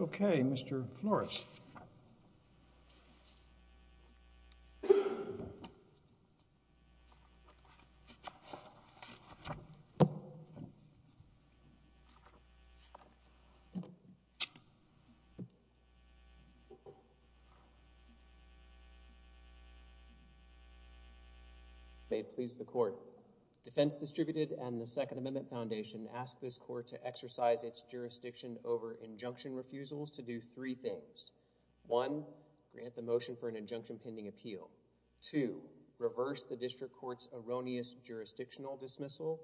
Ok, Mr. Flores. May it please the Court, Defense Distributed and the Second Amendment Foundation ask this Court to consider the following two options. One, grant the motion for an injunction pending appeal. Two, reverse the District Court's erroneous jurisdictional dismissal.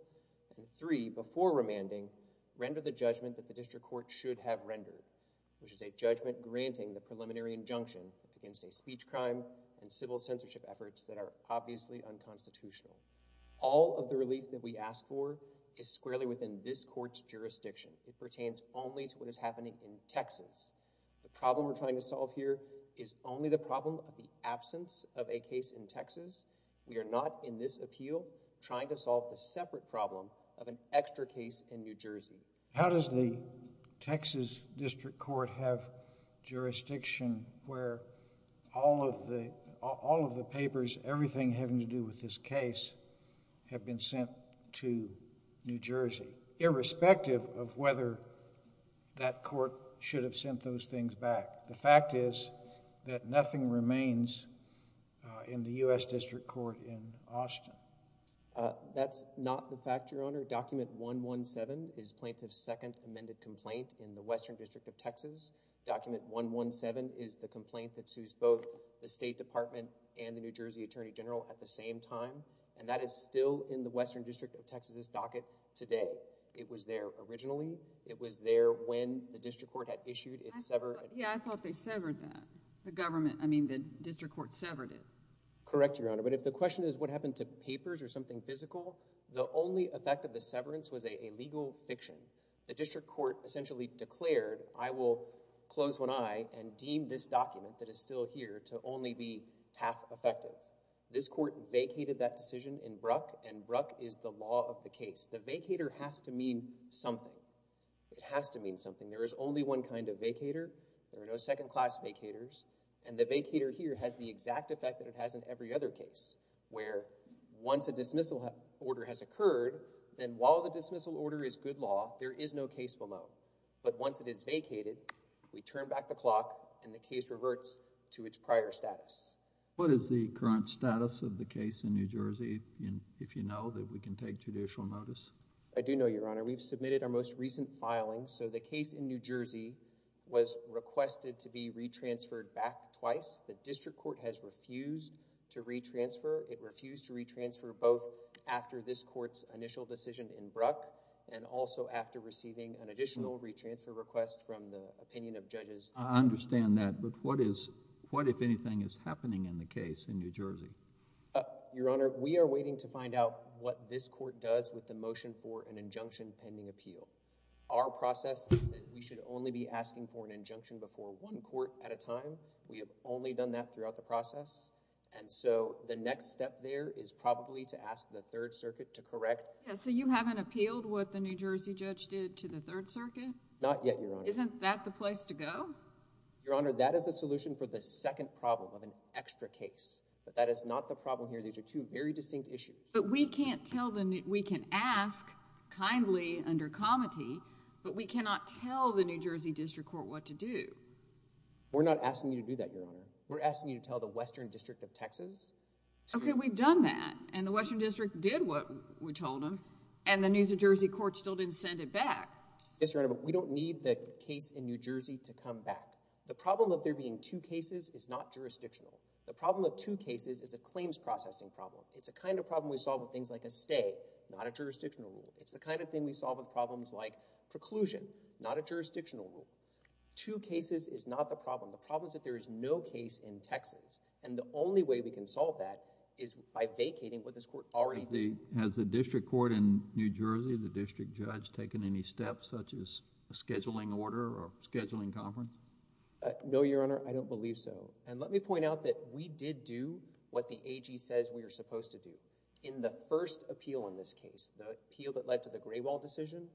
And three, before remanding, render the judgment that the District Court should have rendered, which is a judgment granting the preliminary injunction against a speech crime and civil censorship efforts that are obviously unconstitutional. All of the relief that we ask for is squarely within this Court's jurisdiction. It pertains only to what is happening in Texas. The problem we're trying to solve here is only the problem of the absence of a case in Texas. We are not, in this appeal, trying to solve the separate problem of an extra case in New Jersey. How does the Texas District Court have jurisdiction where all of the, all of the papers, everything having to do with this case, have been sent to New Jersey, irrespective of whether that case was sent to it in Texas? We are going to try to do that. We will try to get those things back. The fact is that nothing remains in the U.S. District Court in Austin. That's not the fact, Your Honor. Document 117 is plaintiff's second amended complaint in the Western District of Texas. Document 117 is the complaint that sues both the State Department and the New Jersey Attorney General at the same time, and that is still in the Western District of Texas' docket today. It was there originally. It was there when the District Court had issued its application. I thought they severed that. The District Court severed it. Correct, Your Honor. But if the question is, what happened to papers or something physical? The only effect of the severance was a legal fiction. The District Court essentially declared, I will close one eye and deem this document that is still here to only be half effective. This court vacated that decision in Brook, and Brook is the law of the case. The vacater has to mean something. It has to mean something. There is only one kind of vacater, there are no second class vacaters, and the vacater here has the exact effect that it has in every other case, where once a dismissal order has occurred, then while the dismissal order is good law, there is no case below. But once it is vacated, we turn back the clock and the case reverts to its prior status. What is the current status of the case in New Jersey, if you know that we can take judicial notice? I do know, Your Honor. We submitted our most recent filing, so the case in New Jersey was requested to be retransferred back twice. The District Court has refused to retransfer. It refused to retransfer both after this court's initial decision in Brook, and also after receiving an additional retransfer request from the opinion of judges. I understand that, but what if anything is happening in the case in New Jersey? Your Honor, we are waiting to find out what this court does with the motion for an injunction pending appeal. Our process is that we should only be asking for an injunction before one court at a time. We have only done that throughout the process, and so the next step there is probably to ask the Third Circuit to correct. Yeah, so you haven't appealed what the New Jersey judge did to the Third Circuit? Not yet, Your Honor. Isn't that the place to go? Your Honor, that is a solution for the second problem of an extra case, but that is not the problem here. These are two very distinct issues. But we can't tell the—we can ask kindly under comity, but we cannot tell the New Jersey District Court what to do. We're not asking you to do that, Your Honor. We're asking you to tell the Western District of Texas. Okay, we've done that, and the Western District did what we told them, and the New Jersey Court still didn't send it back. Yes, Your Honor, but we don't need the case in New Jersey to come back. The problem of there being two cases is not jurisdictional. The problem of two cases is a claims processing problem. It's a kind of problem we solve with things like a stay, not a jurisdictional rule. It's the kind of thing we solve with problems like preclusion, not a jurisdictional rule. Two cases is not the problem. The problem is that there is no case in Texas, and the only way we can solve that is by vacating what this Court already did. Has the District Court in New Jersey, the District Judge, taken any steps such as a scheduling order or scheduling conference? No, Your Honor, I don't believe so. And let me point out that we did do what the AG says we are supposed to do. In the first appeal in this case, the appeal that led to the Gray Wall decision,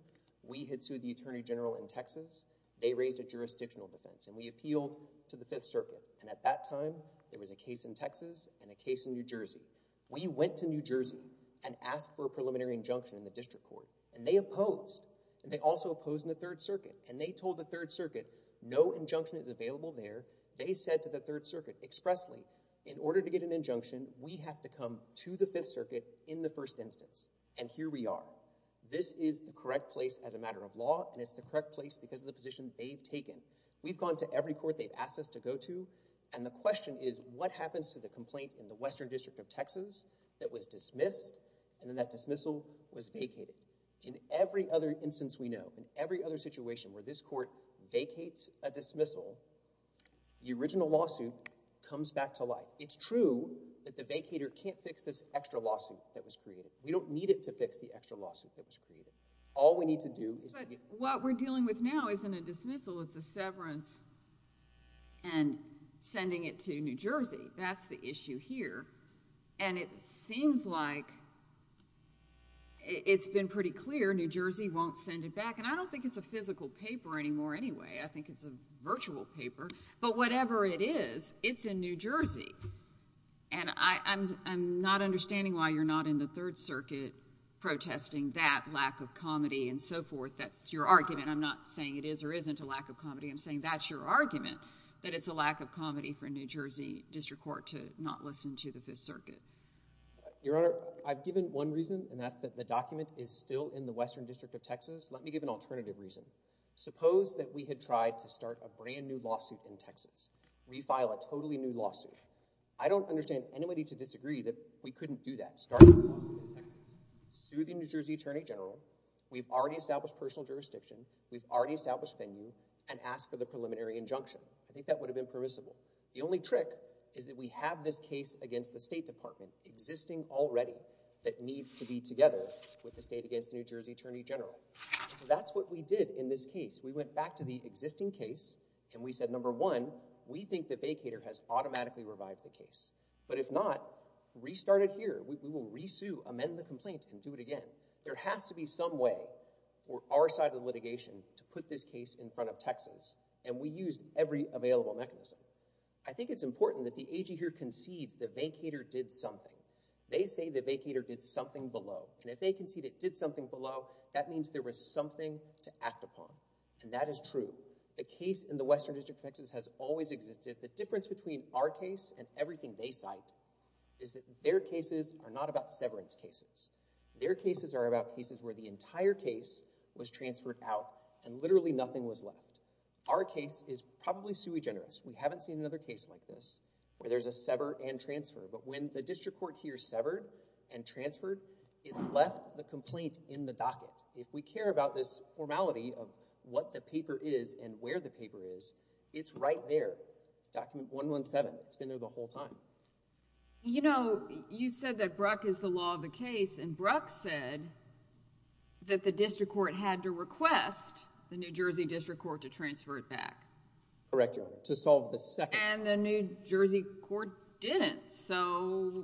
we had sued the Attorney General in Texas. They raised a jurisdictional defense, and we appealed to the Fifth Circuit, and at that time, there was a case in Texas and a case in New Jersey. We went to New Jersey and asked for a preliminary injunction in the District Court, and they opposed, and they also opposed in the Third Circuit, and they told the Third Circuit, no injunction is available there. They said to the Third Circuit expressly, in order to get an injunction, we have to come to the Fifth Circuit in the first instance, and here we are. This is the correct place as a matter of law, and it's the correct place because of the position they've taken. We've gone to every court they've asked us to go to, and the question is, what happens to the complaint in the Western District of Texas that was dismissed, and then that dismissal was vacated? In every other instance we know, in every other situation where this Court vacates a case, the original lawsuit comes back to life. It's true that the vacator can't fix this extra lawsuit that was created. We don't need it to fix the extra lawsuit that was created. All we need to do is to get— What we're dealing with now isn't a dismissal. It's a severance and sending it to New Jersey. That's the issue here, and it seems like it's been pretty clear New Jersey won't send it back, and I don't think it's a physical paper anymore anyway. I think it's a virtual paper, but whatever it is, it's in New Jersey, and I'm not understanding why you're not in the Third Circuit protesting that lack of comedy and so forth. That's your argument. I'm not saying it is or isn't a lack of comedy. I'm saying that's your argument, that it's a lack of comedy for a New Jersey district court to not listen to the Fifth Circuit. Your Honor, I've given one reason, and that's that the document is still in the Western District of Texas. Let me give an alternative reason. Suppose that we had tried to start a brand-new lawsuit in Texas, re-file a totally new lawsuit. I don't understand anybody to disagree that we couldn't do that, start a lawsuit in Texas. Through the New Jersey Attorney General, we've already established personal jurisdiction, we've already established venue, and asked for the preliminary injunction. I think that would have been permissible. The only trick is that we have this case against the State Department existing already that needs to be together with the state against the New Jersey Attorney General. So that's what we did in this case. We went back to the existing case, and we said, number one, we think the vacator has automatically revived the case. But if not, restart it here. We will re-sue, amend the complaint, and do it again. There has to be some way for our side of the litigation to put this case in front of Texas, and we used every available mechanism. I think it's important that the AG here concedes the vacator did something. They say the vacator did something below, and if they concede it did something below, that means there was something to act upon, and that is true. The case in the Western District of Texas has always existed. The difference between our case and everything they cite is that their cases are not about severance cases. Their cases are about cases where the entire case was transferred out and literally nothing was left. Our case is probably sui generis. We haven't seen another case like this where there's a sever and transfer, but when the If we care about this formality of what the paper is and where the paper is, it's right there. Document 117, it's been there the whole time. You know, you said that Bruck is the law of the case, and Bruck said that the district court had to request the New Jersey district court to transfer it back. Correct, Your Honor. To solve the second... And the New Jersey court didn't, so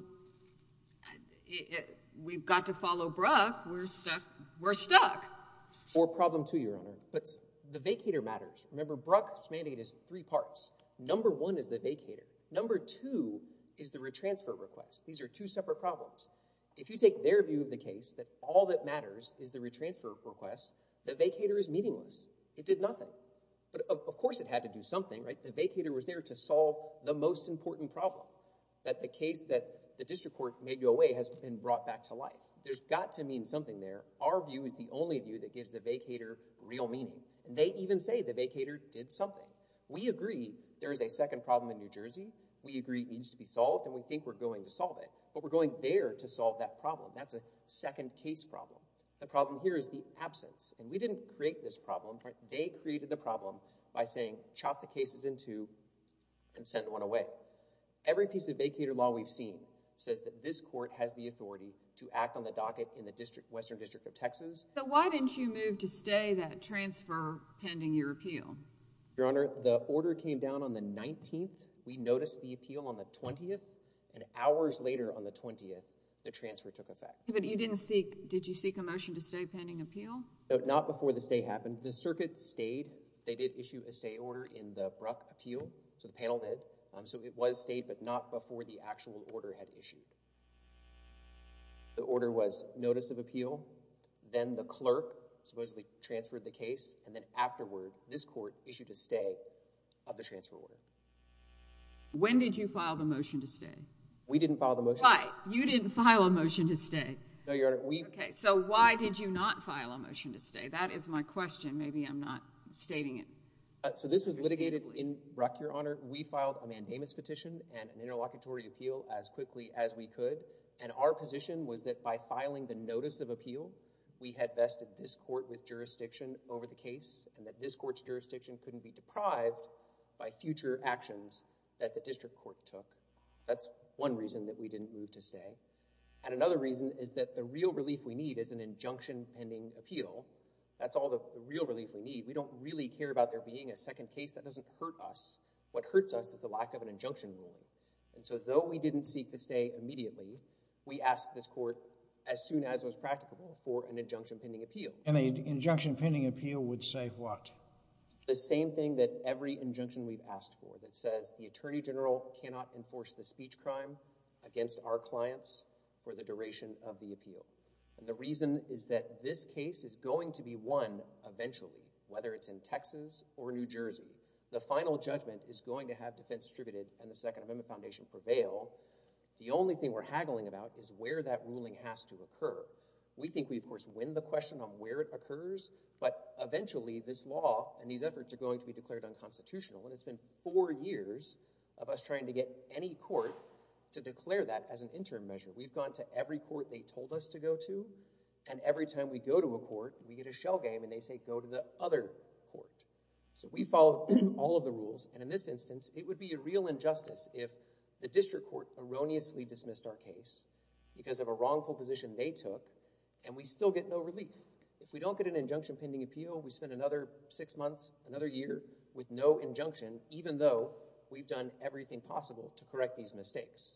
we've got to follow Bruck. We're stuck. We're stuck. Or problem two, Your Honor, but the vacator matters. Remember, Bruck's mandate is three parts. Number one is the vacator. Number two is the retransfer request. These are two separate problems. If you take their view of the case, that all that matters is the retransfer request, the vacator is meaningless. It did nothing. But of course it had to do something, right? The vacator was there to solve the most important problem, that the case that the district court made go away has been brought back to life. There's got to mean something there. Our view is the only view that gives the vacator real meaning, and they even say the vacator did something. We agree there is a second problem in New Jersey. We agree it needs to be solved, and we think we're going to solve it, but we're going there to solve that problem. That's a second case problem. The problem here is the absence, and we didn't create this problem, they created the problem by saying chop the cases in two and send one away. Every piece of vacator law we've seen says that this court has the authority to act on the docket in the Western District of Texas. So why didn't you move to stay that transfer pending your appeal? Your Honor, the order came down on the 19th. We noticed the appeal on the 20th, and hours later on the 20th, the transfer took effect. But you didn't seek, did you seek a motion to stay pending appeal? Not before the stay happened. The circuit stayed. They did issue a stay order in the abrupt appeal, so the panel did. So it was stayed, but not before the actual order had issued. The order was notice of appeal, then the clerk supposedly transferred the case, and then afterward, this court issued a stay of the transfer order. When did you file the motion to stay? We didn't file the motion. Right, you didn't file a motion to stay. No, Your Honor, we— Okay, so why did you not file a motion to stay? That is my question. So this was litigated in Ruck, Your Honor. We filed a mandamus petition and an interlocutory appeal as quickly as we could, and our position was that by filing the notice of appeal, we had vested this court with jurisdiction over the case, and that this court's jurisdiction couldn't be deprived by future actions that the district court took. That's one reason that we didn't move to stay. And another reason is that the real relief we need is an injunction pending appeal. That's all the real relief we need. We don't really care about there being a second case. That doesn't hurt us. What hurts us is the lack of an injunction ruling. And so though we didn't seek to stay immediately, we asked this court, as soon as was practicable, for an injunction pending appeal. And an injunction pending appeal would say what? The same thing that every injunction we've asked for, that says the attorney general cannot enforce the speech crime against our clients for the duration of the appeal. The reason is that this case is going to be won eventually, whether it's in Texas or New Jersey. The final judgment is going to have defense distributed and the Second Amendment Foundation prevail. The only thing we're haggling about is where that ruling has to occur. We think we, of course, win the question on where it occurs, but eventually, this law and these efforts are going to be declared unconstitutional, and it's been four years of us trying to get any court to declare that as an interim measure. We've gone to every court they told us to go to, and every time we go to a court, we get a shell game, and they say, go to the other court. We follow all of the rules, and in this instance, it would be a real injustice if the district court erroneously dismissed our case because of a wrongful position they took, and we still get no relief. If we don't get an injunction pending appeal, we spend another six months, another year with no injunction, even though we've done everything possible to correct these mistakes.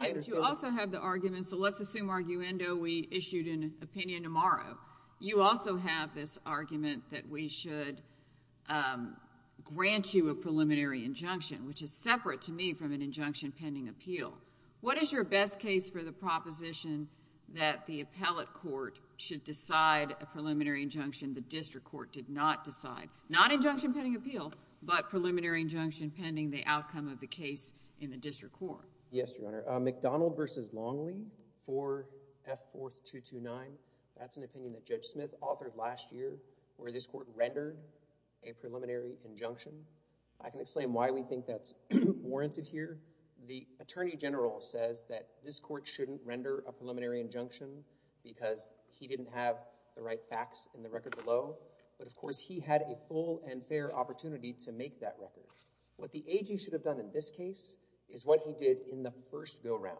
I understand that... Okay, but you also have the argument, so let's assume arguendo, we issued an opinion tomorrow. You also have this argument that we should grant you a preliminary injunction, which is separate to me from an injunction pending appeal. What is your best case for the proposition that the appellate court should decide a preliminary injunction the district court did not decide? Not injunction pending appeal, but preliminary injunction pending the outcome of the case in the district court. Yes, Your Honor. McDonald v. Longley for F4229, that's an opinion that Judge Smith authored last year where this court rendered a preliminary injunction. I can explain why we think that's warranted here. The Attorney General says that this court shouldn't render a preliminary injunction because he didn't have the right facts in the record below, but of course, he had a full and fair opportunity to make that record. What the AG should have done in this case is what he did in the first go-round,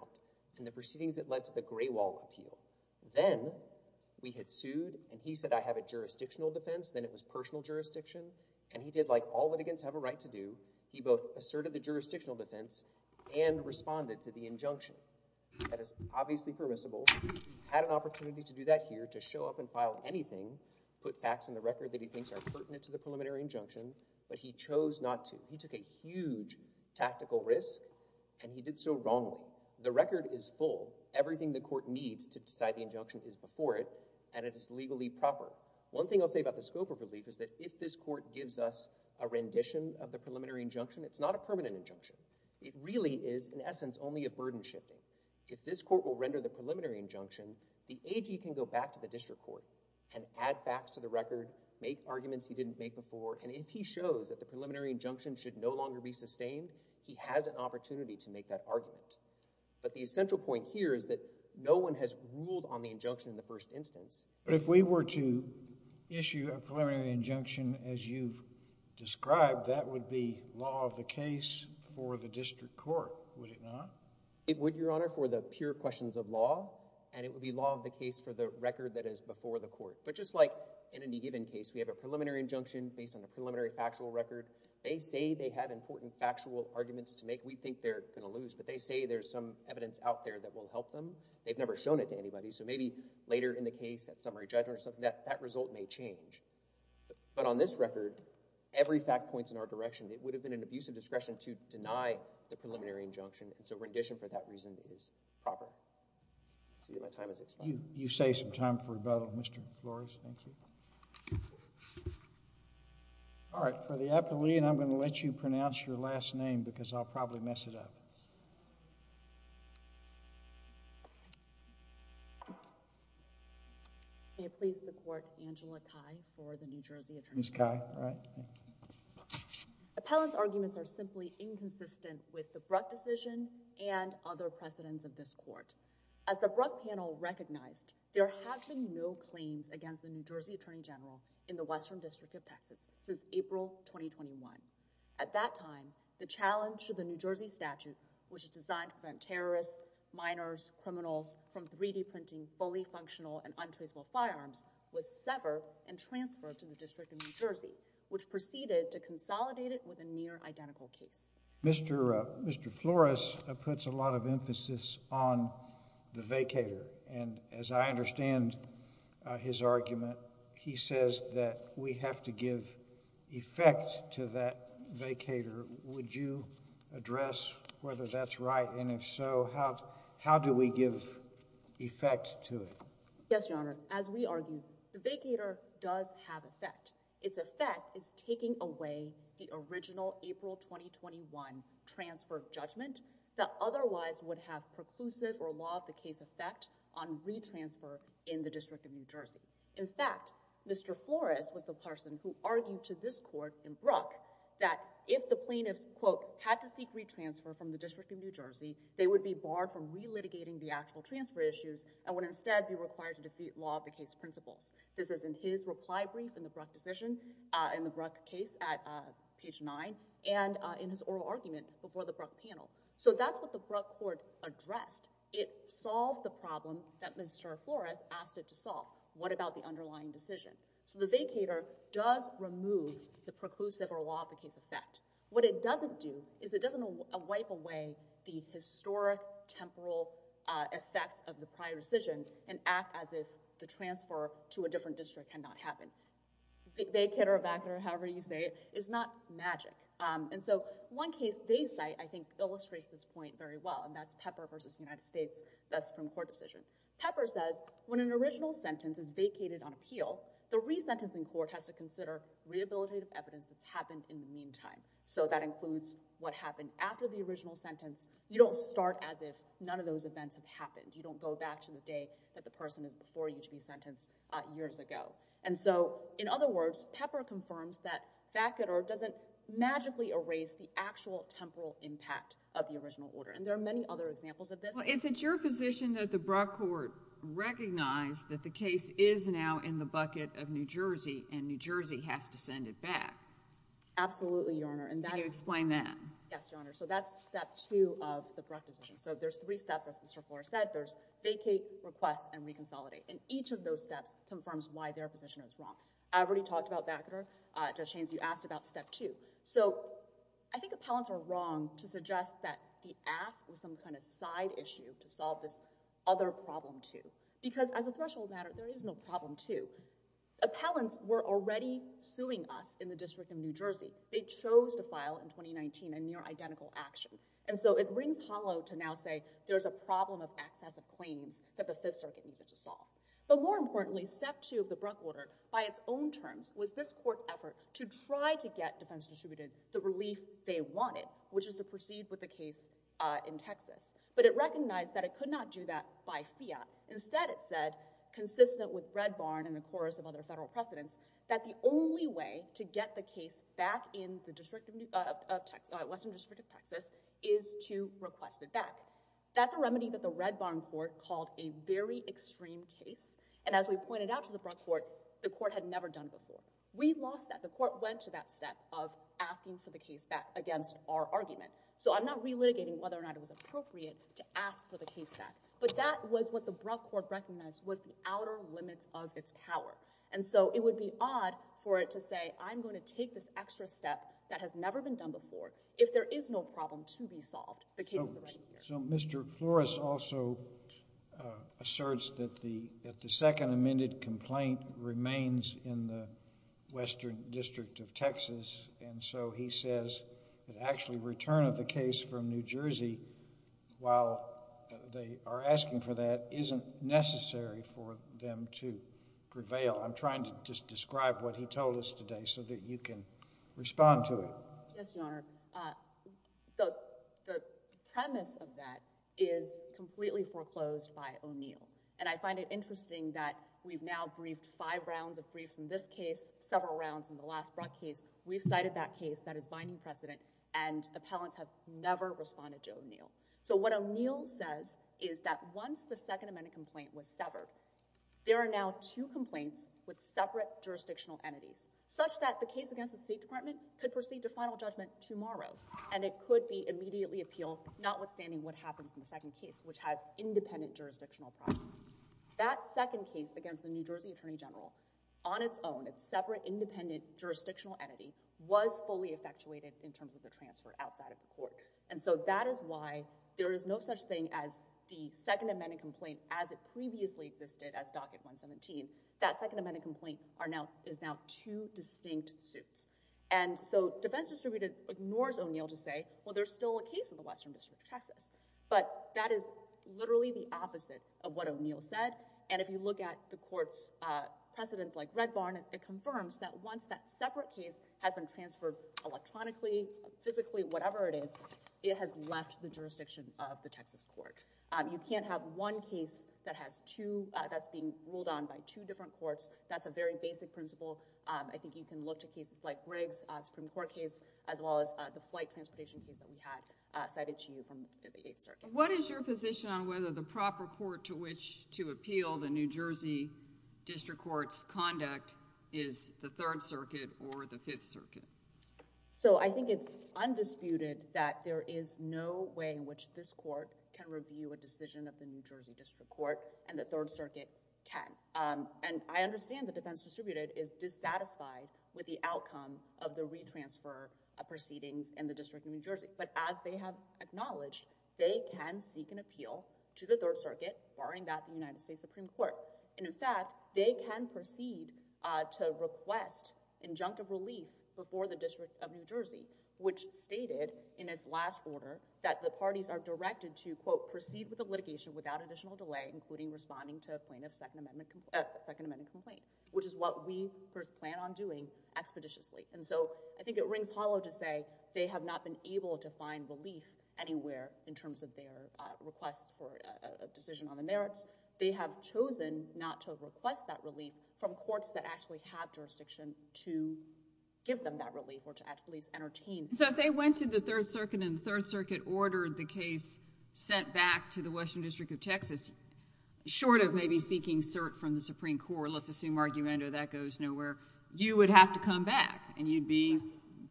in the proceedings that led to the Gray Wall appeal. Then we had sued and he said, I have a jurisdictional defense, then it was personal jurisdiction and he did like all litigants have a right to do, he both asserted the jurisdictional defense and responded to the injunction. That is obviously permissible. He had an opportunity to do that here, to show up and file anything, put facts in the record. He took a huge tactical risk and he did so wrongly. The record is full. Everything the court needs to decide the injunction is before it and it is legally proper. One thing I'll say about the scope of relief is that if this court gives us a rendition of the preliminary injunction, it's not a permanent injunction. It really is, in essence, only a burden shifter. If this court will render the preliminary injunction, the AG can go back to the district court and add facts to the record, make arguments he didn't make before and if he shows that the preliminary injunction should no longer be sustained, he has an opportunity to make that argument. But the essential point here is that no one has ruled on the injunction in the first instance. But if we were to issue a preliminary injunction as you've described, that would be law of the case for the district court, would it not? It would, Your Honor, for the pure questions of law and it would be law of the case for the record that is before the court. But just like in any given case, we have a preliminary injunction based on the preliminary factual record. They say they have important factual arguments to make. We think they're going to lose, but they say there's some evidence out there that will help them. They've never shown it to anybody. So maybe later in the case, at summary judgment or something, that result may change. But on this record, every fact points in our direction. It would have been an abuse of discretion to deny the preliminary injunction, so rendition for that reason is proper. I'll see if my time has expired. You save some time for rebuttal, Mr. Flores. Thank you. All right. For the appellee, and I'm going to let you pronounce your last name because I'll probably mess it up. May it please the Court, Angela Cai for the New Jersey Attorney General. Ms. Cai. All right. Appellant's arguments are simply inconsistent with the Bruck decision and other precedents of this court. As the Bruck panel recognized, there have been no claims against the New Jersey Attorney General in the Western District of Texas since April, 2021. At that time, the challenge to the New Jersey statute, which is designed to prevent terrorists, minors, criminals from 3D printing fully functional and untraceable firearms, was severed and transferred to the District of New Jersey, which proceeded to consolidate it with a near-identical case. Mr. Flores puts a lot of emphasis on the vacator, and as I understand his argument, he says that we have to give effect to that vacator. Would you address whether that's right, and if so, how do we give effect to it? Yes, Your Honor. As we argued, the vacator does have effect. Its effect is taking away the original April, 2021 transfer of judgment that otherwise would have preclusive or law-of-the-case effect on re-transfer in the District of New Jersey. In fact, Mr. Flores was the person who argued to this court in Bruck that if the plaintiffs, quote, had to seek re-transfer from the District of New Jersey, they would be barred from re-litigating the actual transfer issues and would instead be required to defeat law-of-the-case principles. This is in his reply brief in the Bruck decision, in the Bruck case at page nine, and in his oral argument before the Bruck panel. So that's what the Bruck court addressed. It solved the problem that Mr. Flores asked it to solve. What about the underlying decision? So the vacator does remove the preclusive or law-of-the-case effect. What it doesn't do is it doesn't wipe away the historic temporal effects of the prior decision and act as if the transfer to a different district cannot happen. The vacator, evacator, however you say it, is not magic. And so one case they cite, I think, illustrates this point very well, and that's Pepper versus United States. That's from court decision. Pepper says, when an original sentence is vacated on appeal, the resentencing court has to consider rehabilitative evidence that's happened in the meantime. So that includes what happened after the original sentence. You don't start as if none of those events have happened. You don't go back to the day that the person is before you to be sentenced years ago. And so, in other words, Pepper confirms that vacator doesn't magically erase the actual temporal impact of the original order. And there are many other examples of this. Well, is it your position that the Bruck court recognized that the case is now in the bucket of New Jersey and New Jersey has to send it back? Absolutely, Your Honor, and that— Can you explain that? Yes, Your Honor. So that's step two of the Bruck decision. So there's three steps, as Mr. Flores said. There's vacate, request, and reconsolidate. And each of those steps confirms why their position is wrong. I already talked about vacator. Judge Haynes, you asked about step two. So I think appellants are wrong to suggest that the ask was some kind of side issue to solve this other problem, too. Because as a threshold matter, there is no problem, too. Appellants were already suing us in the District of New Jersey. They chose to file in 2019 a near-identical action. And so it rings hollow to now say there's a problem of excessive claims that the Fifth Circuit has. But more importantly, step two of the Bruck order, by its own terms, was this court's effort to try to get defense distributed the relief they wanted, which is to proceed with the case in Texas. But it recognized that it could not do that by fiat. Instead, it said, consistent with Red Barn and the chorus of other federal precedents, that the only way to get the case back in the District of—Western District of Texas is to request it back. That's a remedy that the Red Barn court called a very extreme case. And as we pointed out to the Bruck court, the court had never done before. We lost that. The court went to that step of asking for the case back against our argument. So I'm not relitigating whether or not it was appropriate to ask for the case back. But that was what the Bruck court recognized was the outer limits of its power. And so it would be odd for it to say, I'm going to take this extra step that has never been done before. If there is no problem to be solved, the case is already here. So Mr. Flores also asserts that the second amended complaint remains in the Western District of Texas. And so he says that actually return of the case from New Jersey, while they are asking for that, isn't necessary for them to prevail. I'm trying to just describe what he told us today so that you can respond to it. Yes, Your Honor. The premise of that is completely foreclosed by O'Neill. And I find it interesting that we've now briefed five rounds of briefs in this case, several rounds in the last Bruck case. We've cited that case that is binding precedent and appellants have never responded to O'Neill. So what O'Neill says is that once the second amended complaint was severed, there are now two complaints with separate jurisdictional entities, such that the case against the State Judgement tomorrow. And it could be immediately appealed, notwithstanding what happens in the second case, which has independent jurisdictional problems. That second case against the New Jersey Attorney General, on its own, its separate independent jurisdictional entity, was fully effectuated in terms of the transfer outside of the court. And so that is why there is no such thing as the second amended complaint as it previously existed as Docket 117. That second amended complaint is now two distinct suits. And so Defense Distributed ignores O'Neill to say, well, there's still a case in the Western District of Texas. But that is literally the opposite of what O'Neill said. And if you look at the court's precedents like Red Barn, it confirms that once that separate case has been transferred electronically, physically, whatever it is, it has left the jurisdiction of the Texas court. You can't have one case that has two, that's being ruled on by two different courts. That's a very basic principle. I think you can look to cases like Briggs, Supreme Court case, as well as the flight transportation case that we had cited to you from the Eighth Circuit. What is your position on whether the proper court to which to appeal the New Jersey District Court's conduct is the Third Circuit or the Fifth Circuit? So I think it's undisputed that there is no way in which this court can review a decision of the New Jersey District Court, and the Third Circuit can. And I understand the defense distributed is dissatisfied with the outcome of the retransfer of proceedings in the District of New Jersey. But as they have acknowledged, they can seek an appeal to the Third Circuit, barring that in the United States Supreme Court. And in fact, they can proceed to request injunctive relief before the District of New Jersey, which stated in its last order that the parties are directed to, quote, proceed with the litigation without additional delay, including responding to a plaintiff's Second Amendment complaint, which is what we first plan on doing expeditiously. And so I think it rings hollow to say they have not been able to find relief anywhere in terms of their request for a decision on the merits. They have chosen not to request that relief from courts that actually have jurisdiction to give them that relief or to at least entertain. So if they went to the Third Circuit and the Third Circuit ordered the case sent back to the Western District of Texas, short of maybe seeking cert from the Supreme Court, let's assume argument or that goes nowhere, you would have to come back and you'd be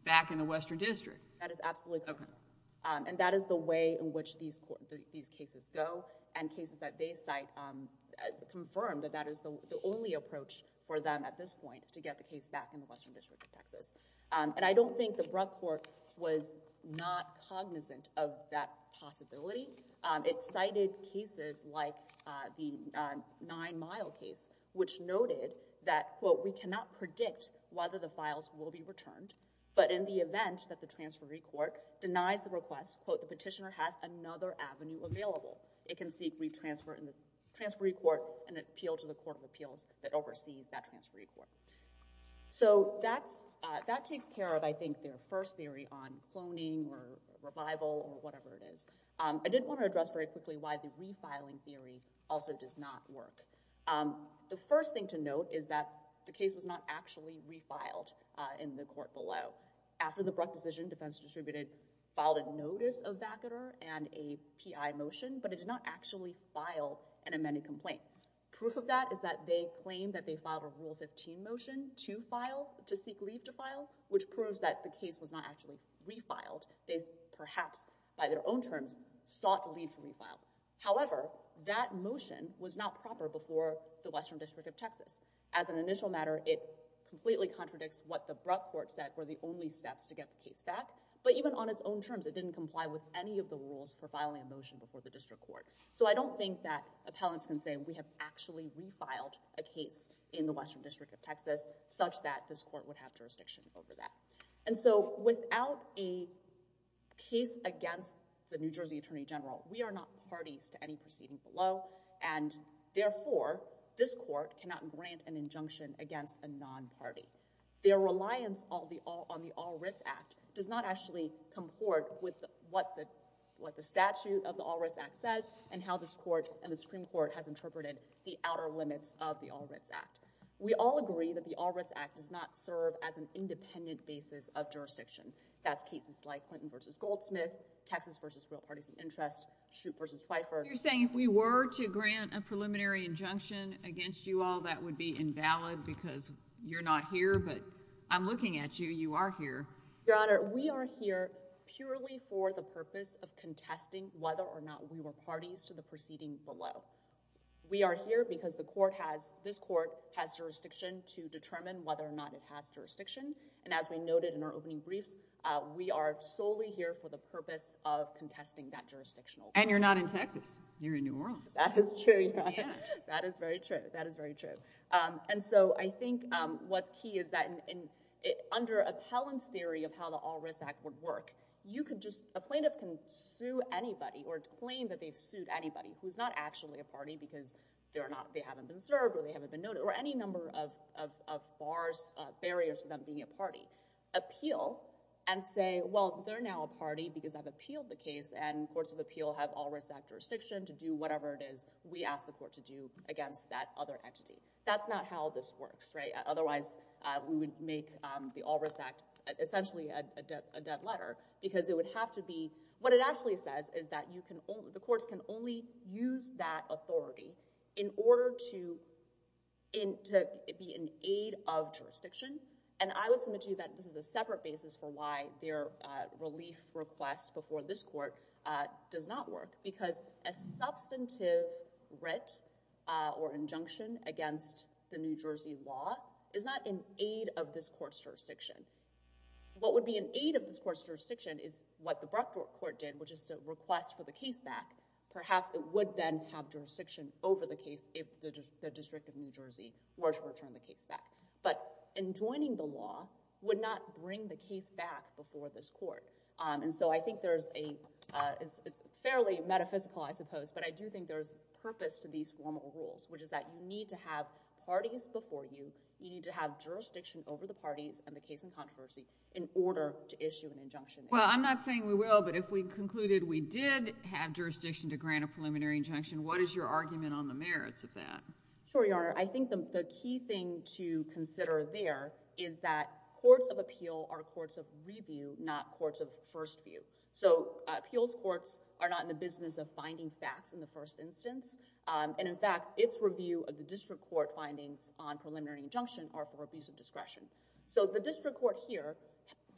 back in the Western District. Okay. That is absolutely correct. And that is the way in which these cases go and cases that they cite confirm that that is the only approach for them at this point to get the case back in the Western District of Texas. And I don't think the Bruck Court was not cognizant of that possibility. It cited cases like the Nine Mile case, which noted that, quote, we cannot predict whether the files will be returned, but in the event that the transferee court denies the request, quote, the petitioner has another avenue available. It can seek re-transfer in the transferee court and appeal to the court of appeals that oversees that transferee court. So that takes care of, I think, their first theory on cloning or revival or whatever it is. I did want to address very quickly why the refiling theory also does not work. The first thing to note is that the case was not actually refiled in the court below. After the Bruck decision, defense distributed, filed a notice of vacater and a PI motion, but it did not actually file an amended complaint. Proof of that is that they claimed that they filed a Rule 15 motion to file, to seek leave to file, which proves that the case was not actually refiled. They perhaps, by their own terms, sought to leave to be refiled. However, that motion was not proper before the Western District of Texas. As an initial matter, it completely contradicts what the Bruck court said were the only steps to get the case back, but even on its own terms, it didn't comply with any of the rules for filing a motion before the district court. So I don't think that appellants can say we have actually refiled a case in the Western District of Texas such that this court would have jurisdiction over that. And so, without a case against the New Jersey Attorney General, we are not parties to any proceeding below, and therefore, this court cannot grant an injunction against a non-party. Their reliance on the All Writs Act does not actually comport with what the statute of the All Writs Act says and how this court and the Supreme Court has interpreted the outer limits of the All Writs Act. We all agree that the All Writs Act does not serve as an independent basis of jurisdiction. That's cases like Clinton v. Goldsmith, Texas v. Real Parties of Interest, Shoup v. Pfeiffer. You're saying if we were to grant a preliminary injunction against you all, that would be invalid because you're not here, but I'm looking at you. You are here. Your Honor, we are here purely for the purpose of contesting whether or not we were parties to the proceeding below. We are here because this court has jurisdiction to determine whether or not it has jurisdiction, and as we noted in our opening briefs, we are solely here for the purpose of contesting that jurisdictional. And you're not in Texas. You're in New Orleans. That is true, Your Honor. Yeah. That is very true. That is very true. And so, I think what's key is that under appellant's theory of how the All Writs Act would work, you could just, a plaintiff can sue anybody or claim that they've sued anybody who's not actually a party because they haven't been served or they haven't been noted, or any number of barriers to them being a party, appeal, and say, well, they're now a party because I've appealed the case, and courts of appeal have All Writs Act jurisdiction to do whatever it is we ask the court to do against that other entity. That's not how this works, right? Otherwise, we would make the All Writs Act essentially a dead letter because it would have to be, what it actually says is that the courts can only use that authority in order to be in aid of jurisdiction. And I would submit to you that this is a separate basis for why their relief request before this court does not work because a substantive writ or injunction against the New Jersey law is not in aid of this court's jurisdiction. What would be in aid of this court's jurisdiction is what the Brockdorf Court did, which is to request for the case back. Perhaps it would then have jurisdiction over the case if the District of New Jersey were to return the case back. But enjoining the law would not bring the case back before this court. And so I think there's a, it's fairly metaphysical, I suppose, but I do think there's purpose to these formal rules, which is that you need to have parties before you, you need to have jurisdiction over the parties and the case in controversy in order to issue an injunction. Well, I'm not saying we will, but if we concluded we did have jurisdiction to grant a preliminary injunction, what is your argument on the merits of that? Sure, Your Honor. I think the key thing to consider there is that courts of appeal are courts of review, not courts of first view. So appeals courts are not in the business of finding facts in the first instance, and in fact, its review of the district court findings on preliminary injunction are for abuse of discretion. So the district court here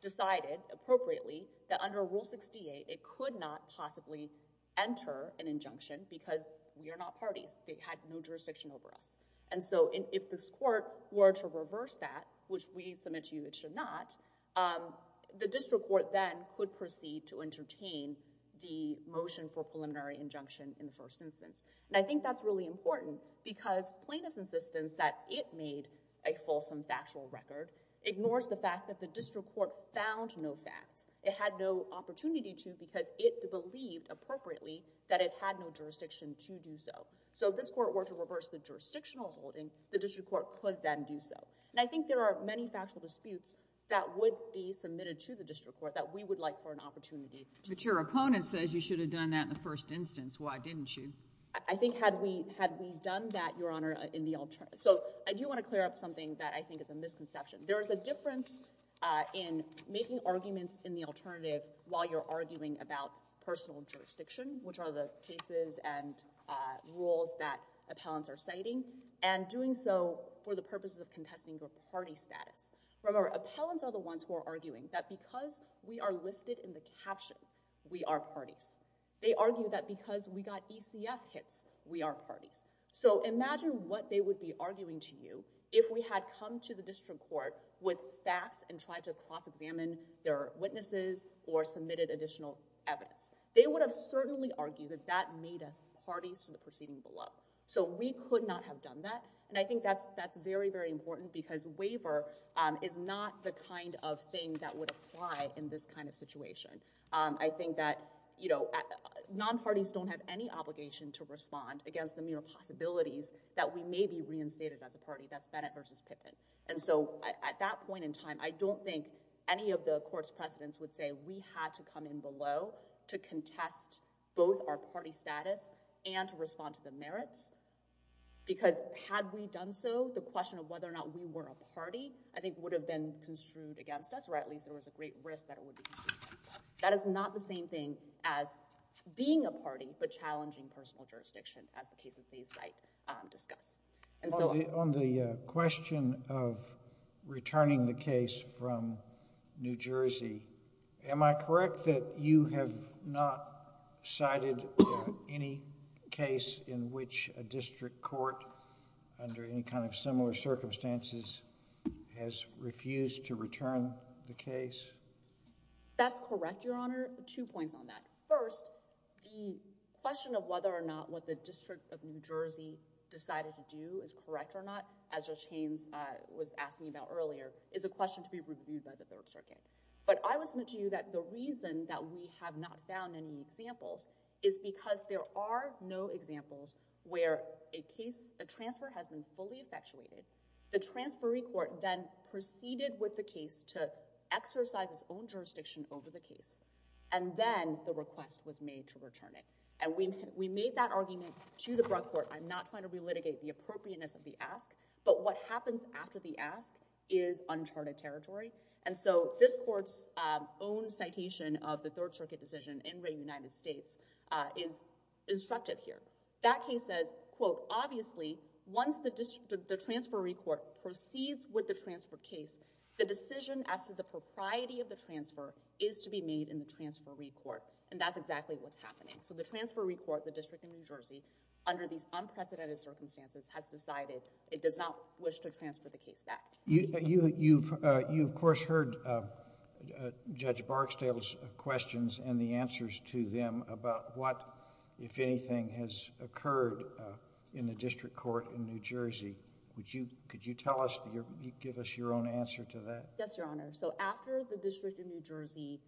decided appropriately that under Rule 68 it could not possibly enter an injunction because we are not parties, they had no jurisdiction over us. And so if this court were to reverse that, which we submit to you it should not, the district court should not be able to intervene to entertain the motion for preliminary injunction in the first instance. And I think that's really important because plaintiff's insistence that it made a fulsome factual record ignores the fact that the district court found no facts. It had no opportunity to because it believed appropriately that it had no jurisdiction to do so. So if this court were to reverse the jurisdictional holding, the district court could then do so. And I think there are many factual disputes that would be submitted to the district court that we would like for an opportunity. But your opponent says you should have done that in the first instance. Why didn't you? I think had we done that, Your Honor, in the alternative. So I do want to clear up something that I think is a misconception. There is a difference in making arguments in the alternative while you're arguing about personal jurisdiction, which are the cases and rules that appellants are citing, and doing so for the purposes of contesting your party status. Remember, appellants are the ones who are arguing that because we are listed in the caption, we are parties. They argue that because we got ECF hits, we are parties. So imagine what they would be arguing to you if we had come to the district court with facts and tried to cross-examine their witnesses or submitted additional evidence. They would have certainly argued that that made us parties to the proceeding below. So we could not have done that. And I think that's very, very important because waiver is not the kind of thing that would apply in this kind of situation. I think that, you know, non-parties don't have any obligation to respond against the mere possibilities that we may be reinstated as a party. That's Bennett versus Pippin. And so at that point in time, I don't think any of the court's precedents would say we had to come in below to contest both our party status and to respond to the merits. Because had we done so, the question of whether or not we were a party, I think, would have been construed against us. Or at least there was a great risk that it would be construed against us. That is not the same thing as being a party, but challenging personal jurisdiction, as the cases they cite discuss. And so— On the question of returning the case from New Jersey, am I correct that you have not cited any case in which a district court under any kind of similar circumstances has refused to return the case? That's correct, Your Honor. Two points on that. First, the question of whether or not what the District of New Jersey decided to do is correct or not, as Judge Haynes was asking about earlier, is a question to be reviewed by the Third Circuit. But I will submit to you that the reason that we have not found any examples is because there are no examples where a transfer has been fully effectuated, the transferee court then proceeded with the case to exercise its own jurisdiction over the case, and then the request was made to return it. And we made that argument to the Bruck Court. I'm not trying to relitigate the appropriateness of the ask, but what happens after the ask is uncharted territory. And so, this court's own citation of the Third Circuit decision in Ray United States is instructed here. That case says, quote, obviously, once the transferee court proceeds with the transfer case, the decision as to the propriety of the transfer is to be made in the transferee court, and that's exactly what's happening. So the transferee court, the District of New Jersey, under these unprecedented circumstances has decided it does not wish to transfer the case back. You, of course, heard Judge Barksdale's questions and the answers to them about what, if anything, has occurred in the district court in New Jersey. Could you tell us, give us your own answer to that? Yes, Your Honor. So after the District of New Jersey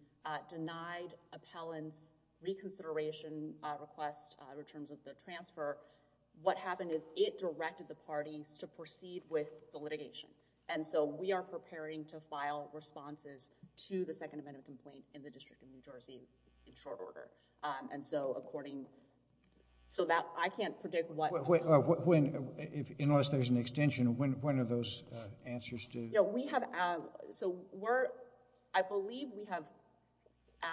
denied appellant's reconsideration request in terms of the transfer, what happened is it directed the parties to proceed with the litigation. And so, we are preparing to file responses to the second amendment complaint in the District of New Jersey in short order. And so, according... so that, I can't predict what... Unless there's an extension, when are those answers due? We have... so, I believe we have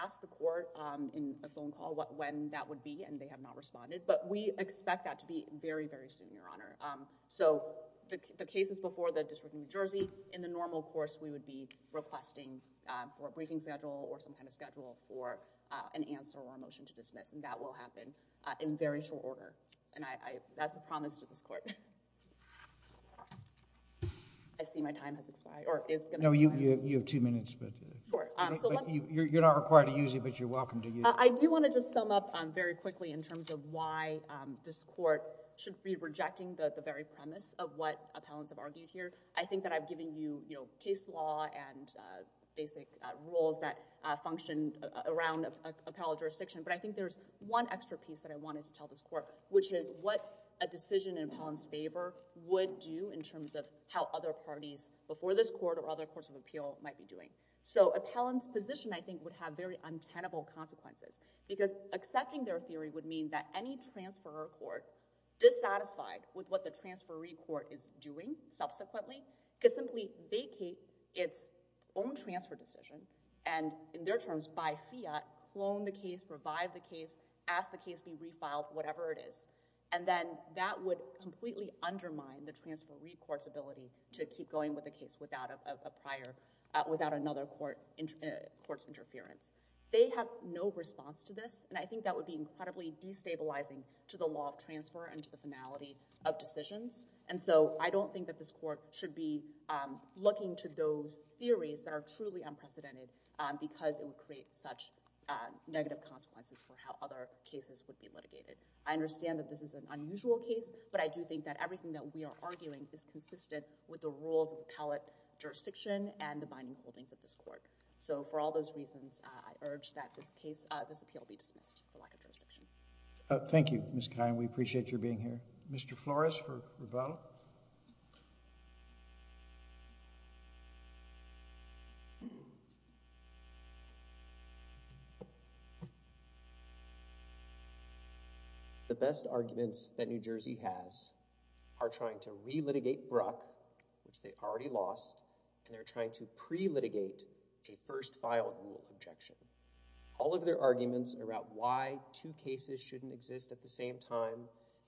asked the court in a phone call when that would be and they have not responded, but we expect that to be very, very soon, Your Honor. So, the cases before the District of New Jersey, in the normal course, we would be requesting for a briefing schedule or some kind of schedule for an answer or a motion to dismiss, and that will happen in very short order. And that's the promise to this court. I see my time has expired, or is going to expire. No, you have two minutes. Sure. You're not required to use it, but you're welcome to use it. I do want to just sum up very quickly in terms of why this court should be rejecting the very premise of what appellants have argued here. I think that I've given you case law and basic rules that function around appellate jurisdiction, but I think there's one extra piece that I wanted to tell this court, which is what a decision in appellant's favor would do in terms of how other parties before this court or other courts of appeal might be doing. So, appellant's position, I think, would have very untenable consequences because accepting their theory would mean that any transferor court dissatisfied with what the transferee court is doing subsequently could simply vacate its own transfer decision and, in their terms, buy fiat, clone the case, revive the case, ask the case be refiled, whatever it is, and then that would completely undermine the transferee court's ability to keep going with the case without another court's interference. They have no response to this, and I think that would be incredibly destabilizing to the law of transfer and to the finality of decisions. And so, I don't think that this court should be looking to those theories that are truly unprecedented because it would create such negative consequences for how other cases would be litigated. I understand that this is an unusual case, but I do think that everything that we are arguing is consistent with the rules of appellate jurisdiction and the binding holdings of this court. So, for all those reasons, I urge that this case, this appeal be dismissed for lack of jurisdiction. Thank you, Ms. Khai. We appreciate your being here. Mr. Flores for rebuttal. The best arguments that New Jersey has are trying to re-litigate a first filed rule objection. All of their arguments are about why two cases shouldn't exist at the same time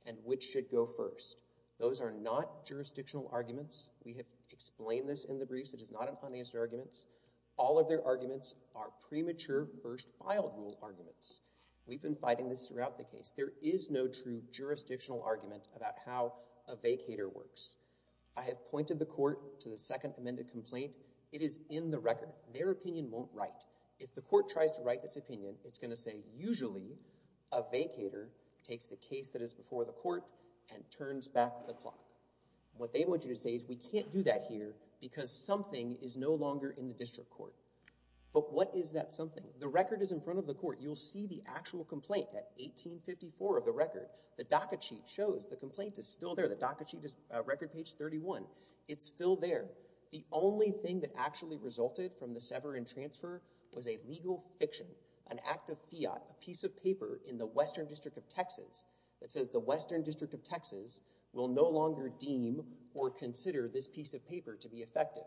and which should go first. Those are not jurisdictional arguments. We have explained this in the briefs. It is not in financial arguments. All of their arguments are premature first filed rule arguments. We've been fighting this throughout the case. There is no true jurisdictional argument about how a vacator works. I have pointed the court to the second amended complaint. It is in the record. Their opinion won't write. If the court tries to write this opinion, it's going to say, usually a vacator takes the case that is before the court and turns back the clock. What they want you to say is we can't do that here because something is no longer in the district court. But what is that something? The record is in front of the court. You'll see the actual complaint at 1854 of the record. The DACA sheet shows the complaint is still there. The DACA sheet is record page 31. It's still there. The only thing that actually resulted from the sever and transfer was a legal fiction, an act of fiat, a piece of paper in the Western District of Texas that says the Western District of Texas will no longer deem or consider this piece of paper to be effective.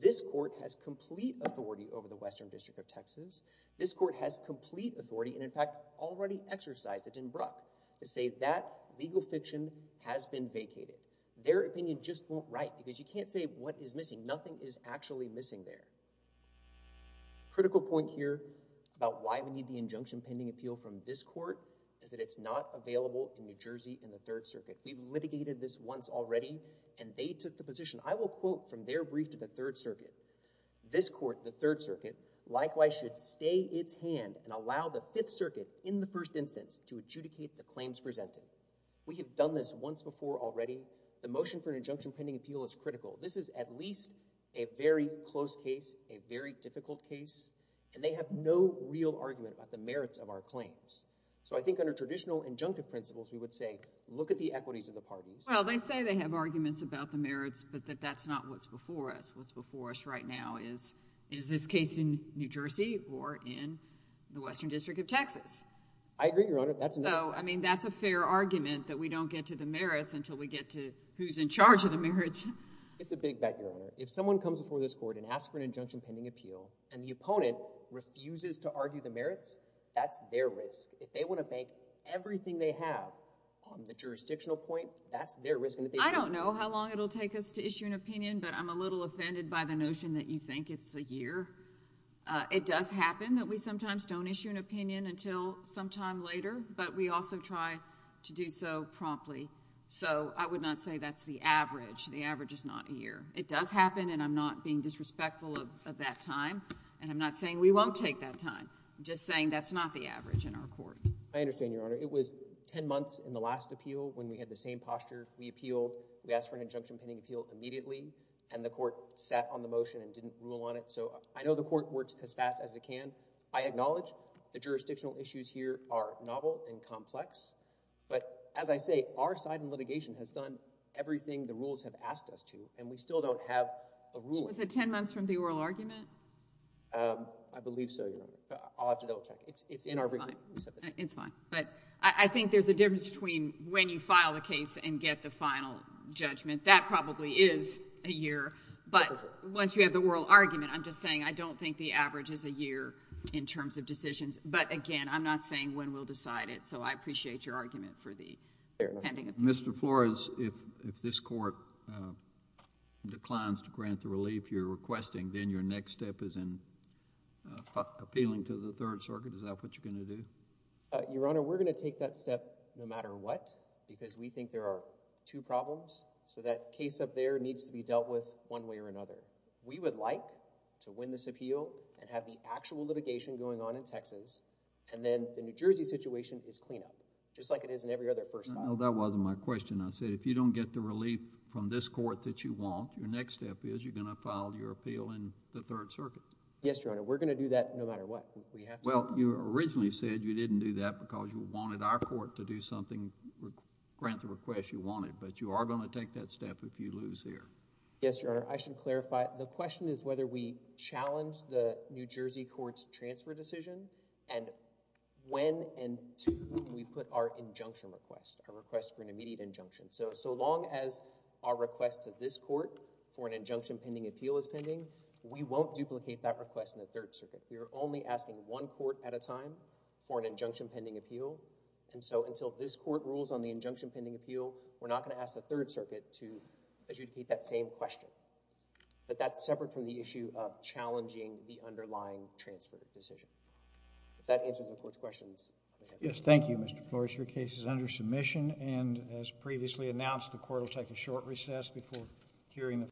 This court has complete authority over the Western District of Texas. This court has complete authority and, in fact, already exercised it in Bruck to say that legal fiction has been vacated. Their opinion just won't write because you can't say what is missing. Nothing is actually missing there. Critical point here about why we need the injunction pending appeal from this court is that it's not available in New Jersey in the Third Circuit. We litigated this once already, and they took the position. I will quote from their brief to the Third Circuit. This court, the Third Circuit, likewise should stay its hand and allow the Fifth Circuit in the first instance to adjudicate the claims presented. We have done this once before already. The motion for an injunction pending appeal is critical. This is at least a very close case, a very difficult case, and they have no real argument about the merits of our claims. So I think under traditional injunctive principles, we would say, look at the equities of the parties. Well, they say they have arguments about the merits, but that that's not what's before us. What's before us right now is, is this case in New Jersey or in the Western District of Texas? I agree, Your Honor. I mean, that's a fair argument that we don't get to the merits until we get to who's in charge of the merits. It's a big bet, Your Honor. If someone comes before this court and asks for an injunction pending appeal and the opponent refuses to argue the merits, that's their risk. If they want to bank everything they have on the jurisdictional point, that's their risk. I don't know how long it'll take us to issue an opinion, but I'm a little offended by the notion that you think it's a year. It does happen that we sometimes don't issue an opinion until some time later, but we also try to do so promptly. So I would not say that's the average. The average is not a year. It does happen, and I'm not being disrespectful of that time. And I'm not saying we won't take that time. I'm just saying that's not the average in our court. I understand, Your Honor. It was 10 months in the last appeal when we had the same posture. We appealed. We asked for an injunction pending appeal immediately, and the court sat on the motion and didn't rule on it. So I know the court works as fast as it can. I acknowledge the jurisdictional issues here are novel and complex. But as I say, our side in litigation has done everything the rules have asked us to, and we still don't have a ruling. Was it 10 months from the oral argument? I believe so, Your Honor. I'll have to double check. It's in our review. It's fine. But I think there's a difference between when you file a case and get the final judgment. That probably is a year. But once you have the oral argument, I'm just saying I don't think the average is a year in terms of decisions. But again, I'm not saying when we'll decide it. So I appreciate your argument for the pending appeal. Mr. Flores, if this court declines to grant the relief you're requesting, then your next step is in appealing to the Third Circuit. Is that what you're going to do? Your Honor, we're going to take that step no matter what, because we think there are two problems. So that case up there needs to be dealt with one way or another. We would like to win this appeal and have the actual litigation going on in Texas. And then the New Jersey situation is clean up, just like it is in every other first file. That wasn't my question. I said, if you don't get the relief from this court that you want, your next step is you're going to file your appeal in the Third Circuit. Yes, Your Honor, we're going to do that no matter what. Well, you originally said you didn't do that because you wanted our court to grant the request you wanted. But you are going to take that step if you lose here. Yes, Your Honor. I should clarify. The question is whether we challenge the New Jersey court's transfer decision and when and to when we put our injunction request, our request for an immediate injunction. So long as our request to this court for an injunction pending appeal is pending, we won't duplicate that request in the Third Circuit. We are only asking one court at a time for an injunction pending appeal. And so until this court rules on the injunction pending appeal, we're not going to ask the Third Circuit to, as you'd repeat, that same question. But that's separate from the issue of challenging the underlying transfer decision. If that answers the court's questions. Yes, thank you, Mr. Flores. Your case is under submission. And as previously announced, the court will take a short recess before hearing the.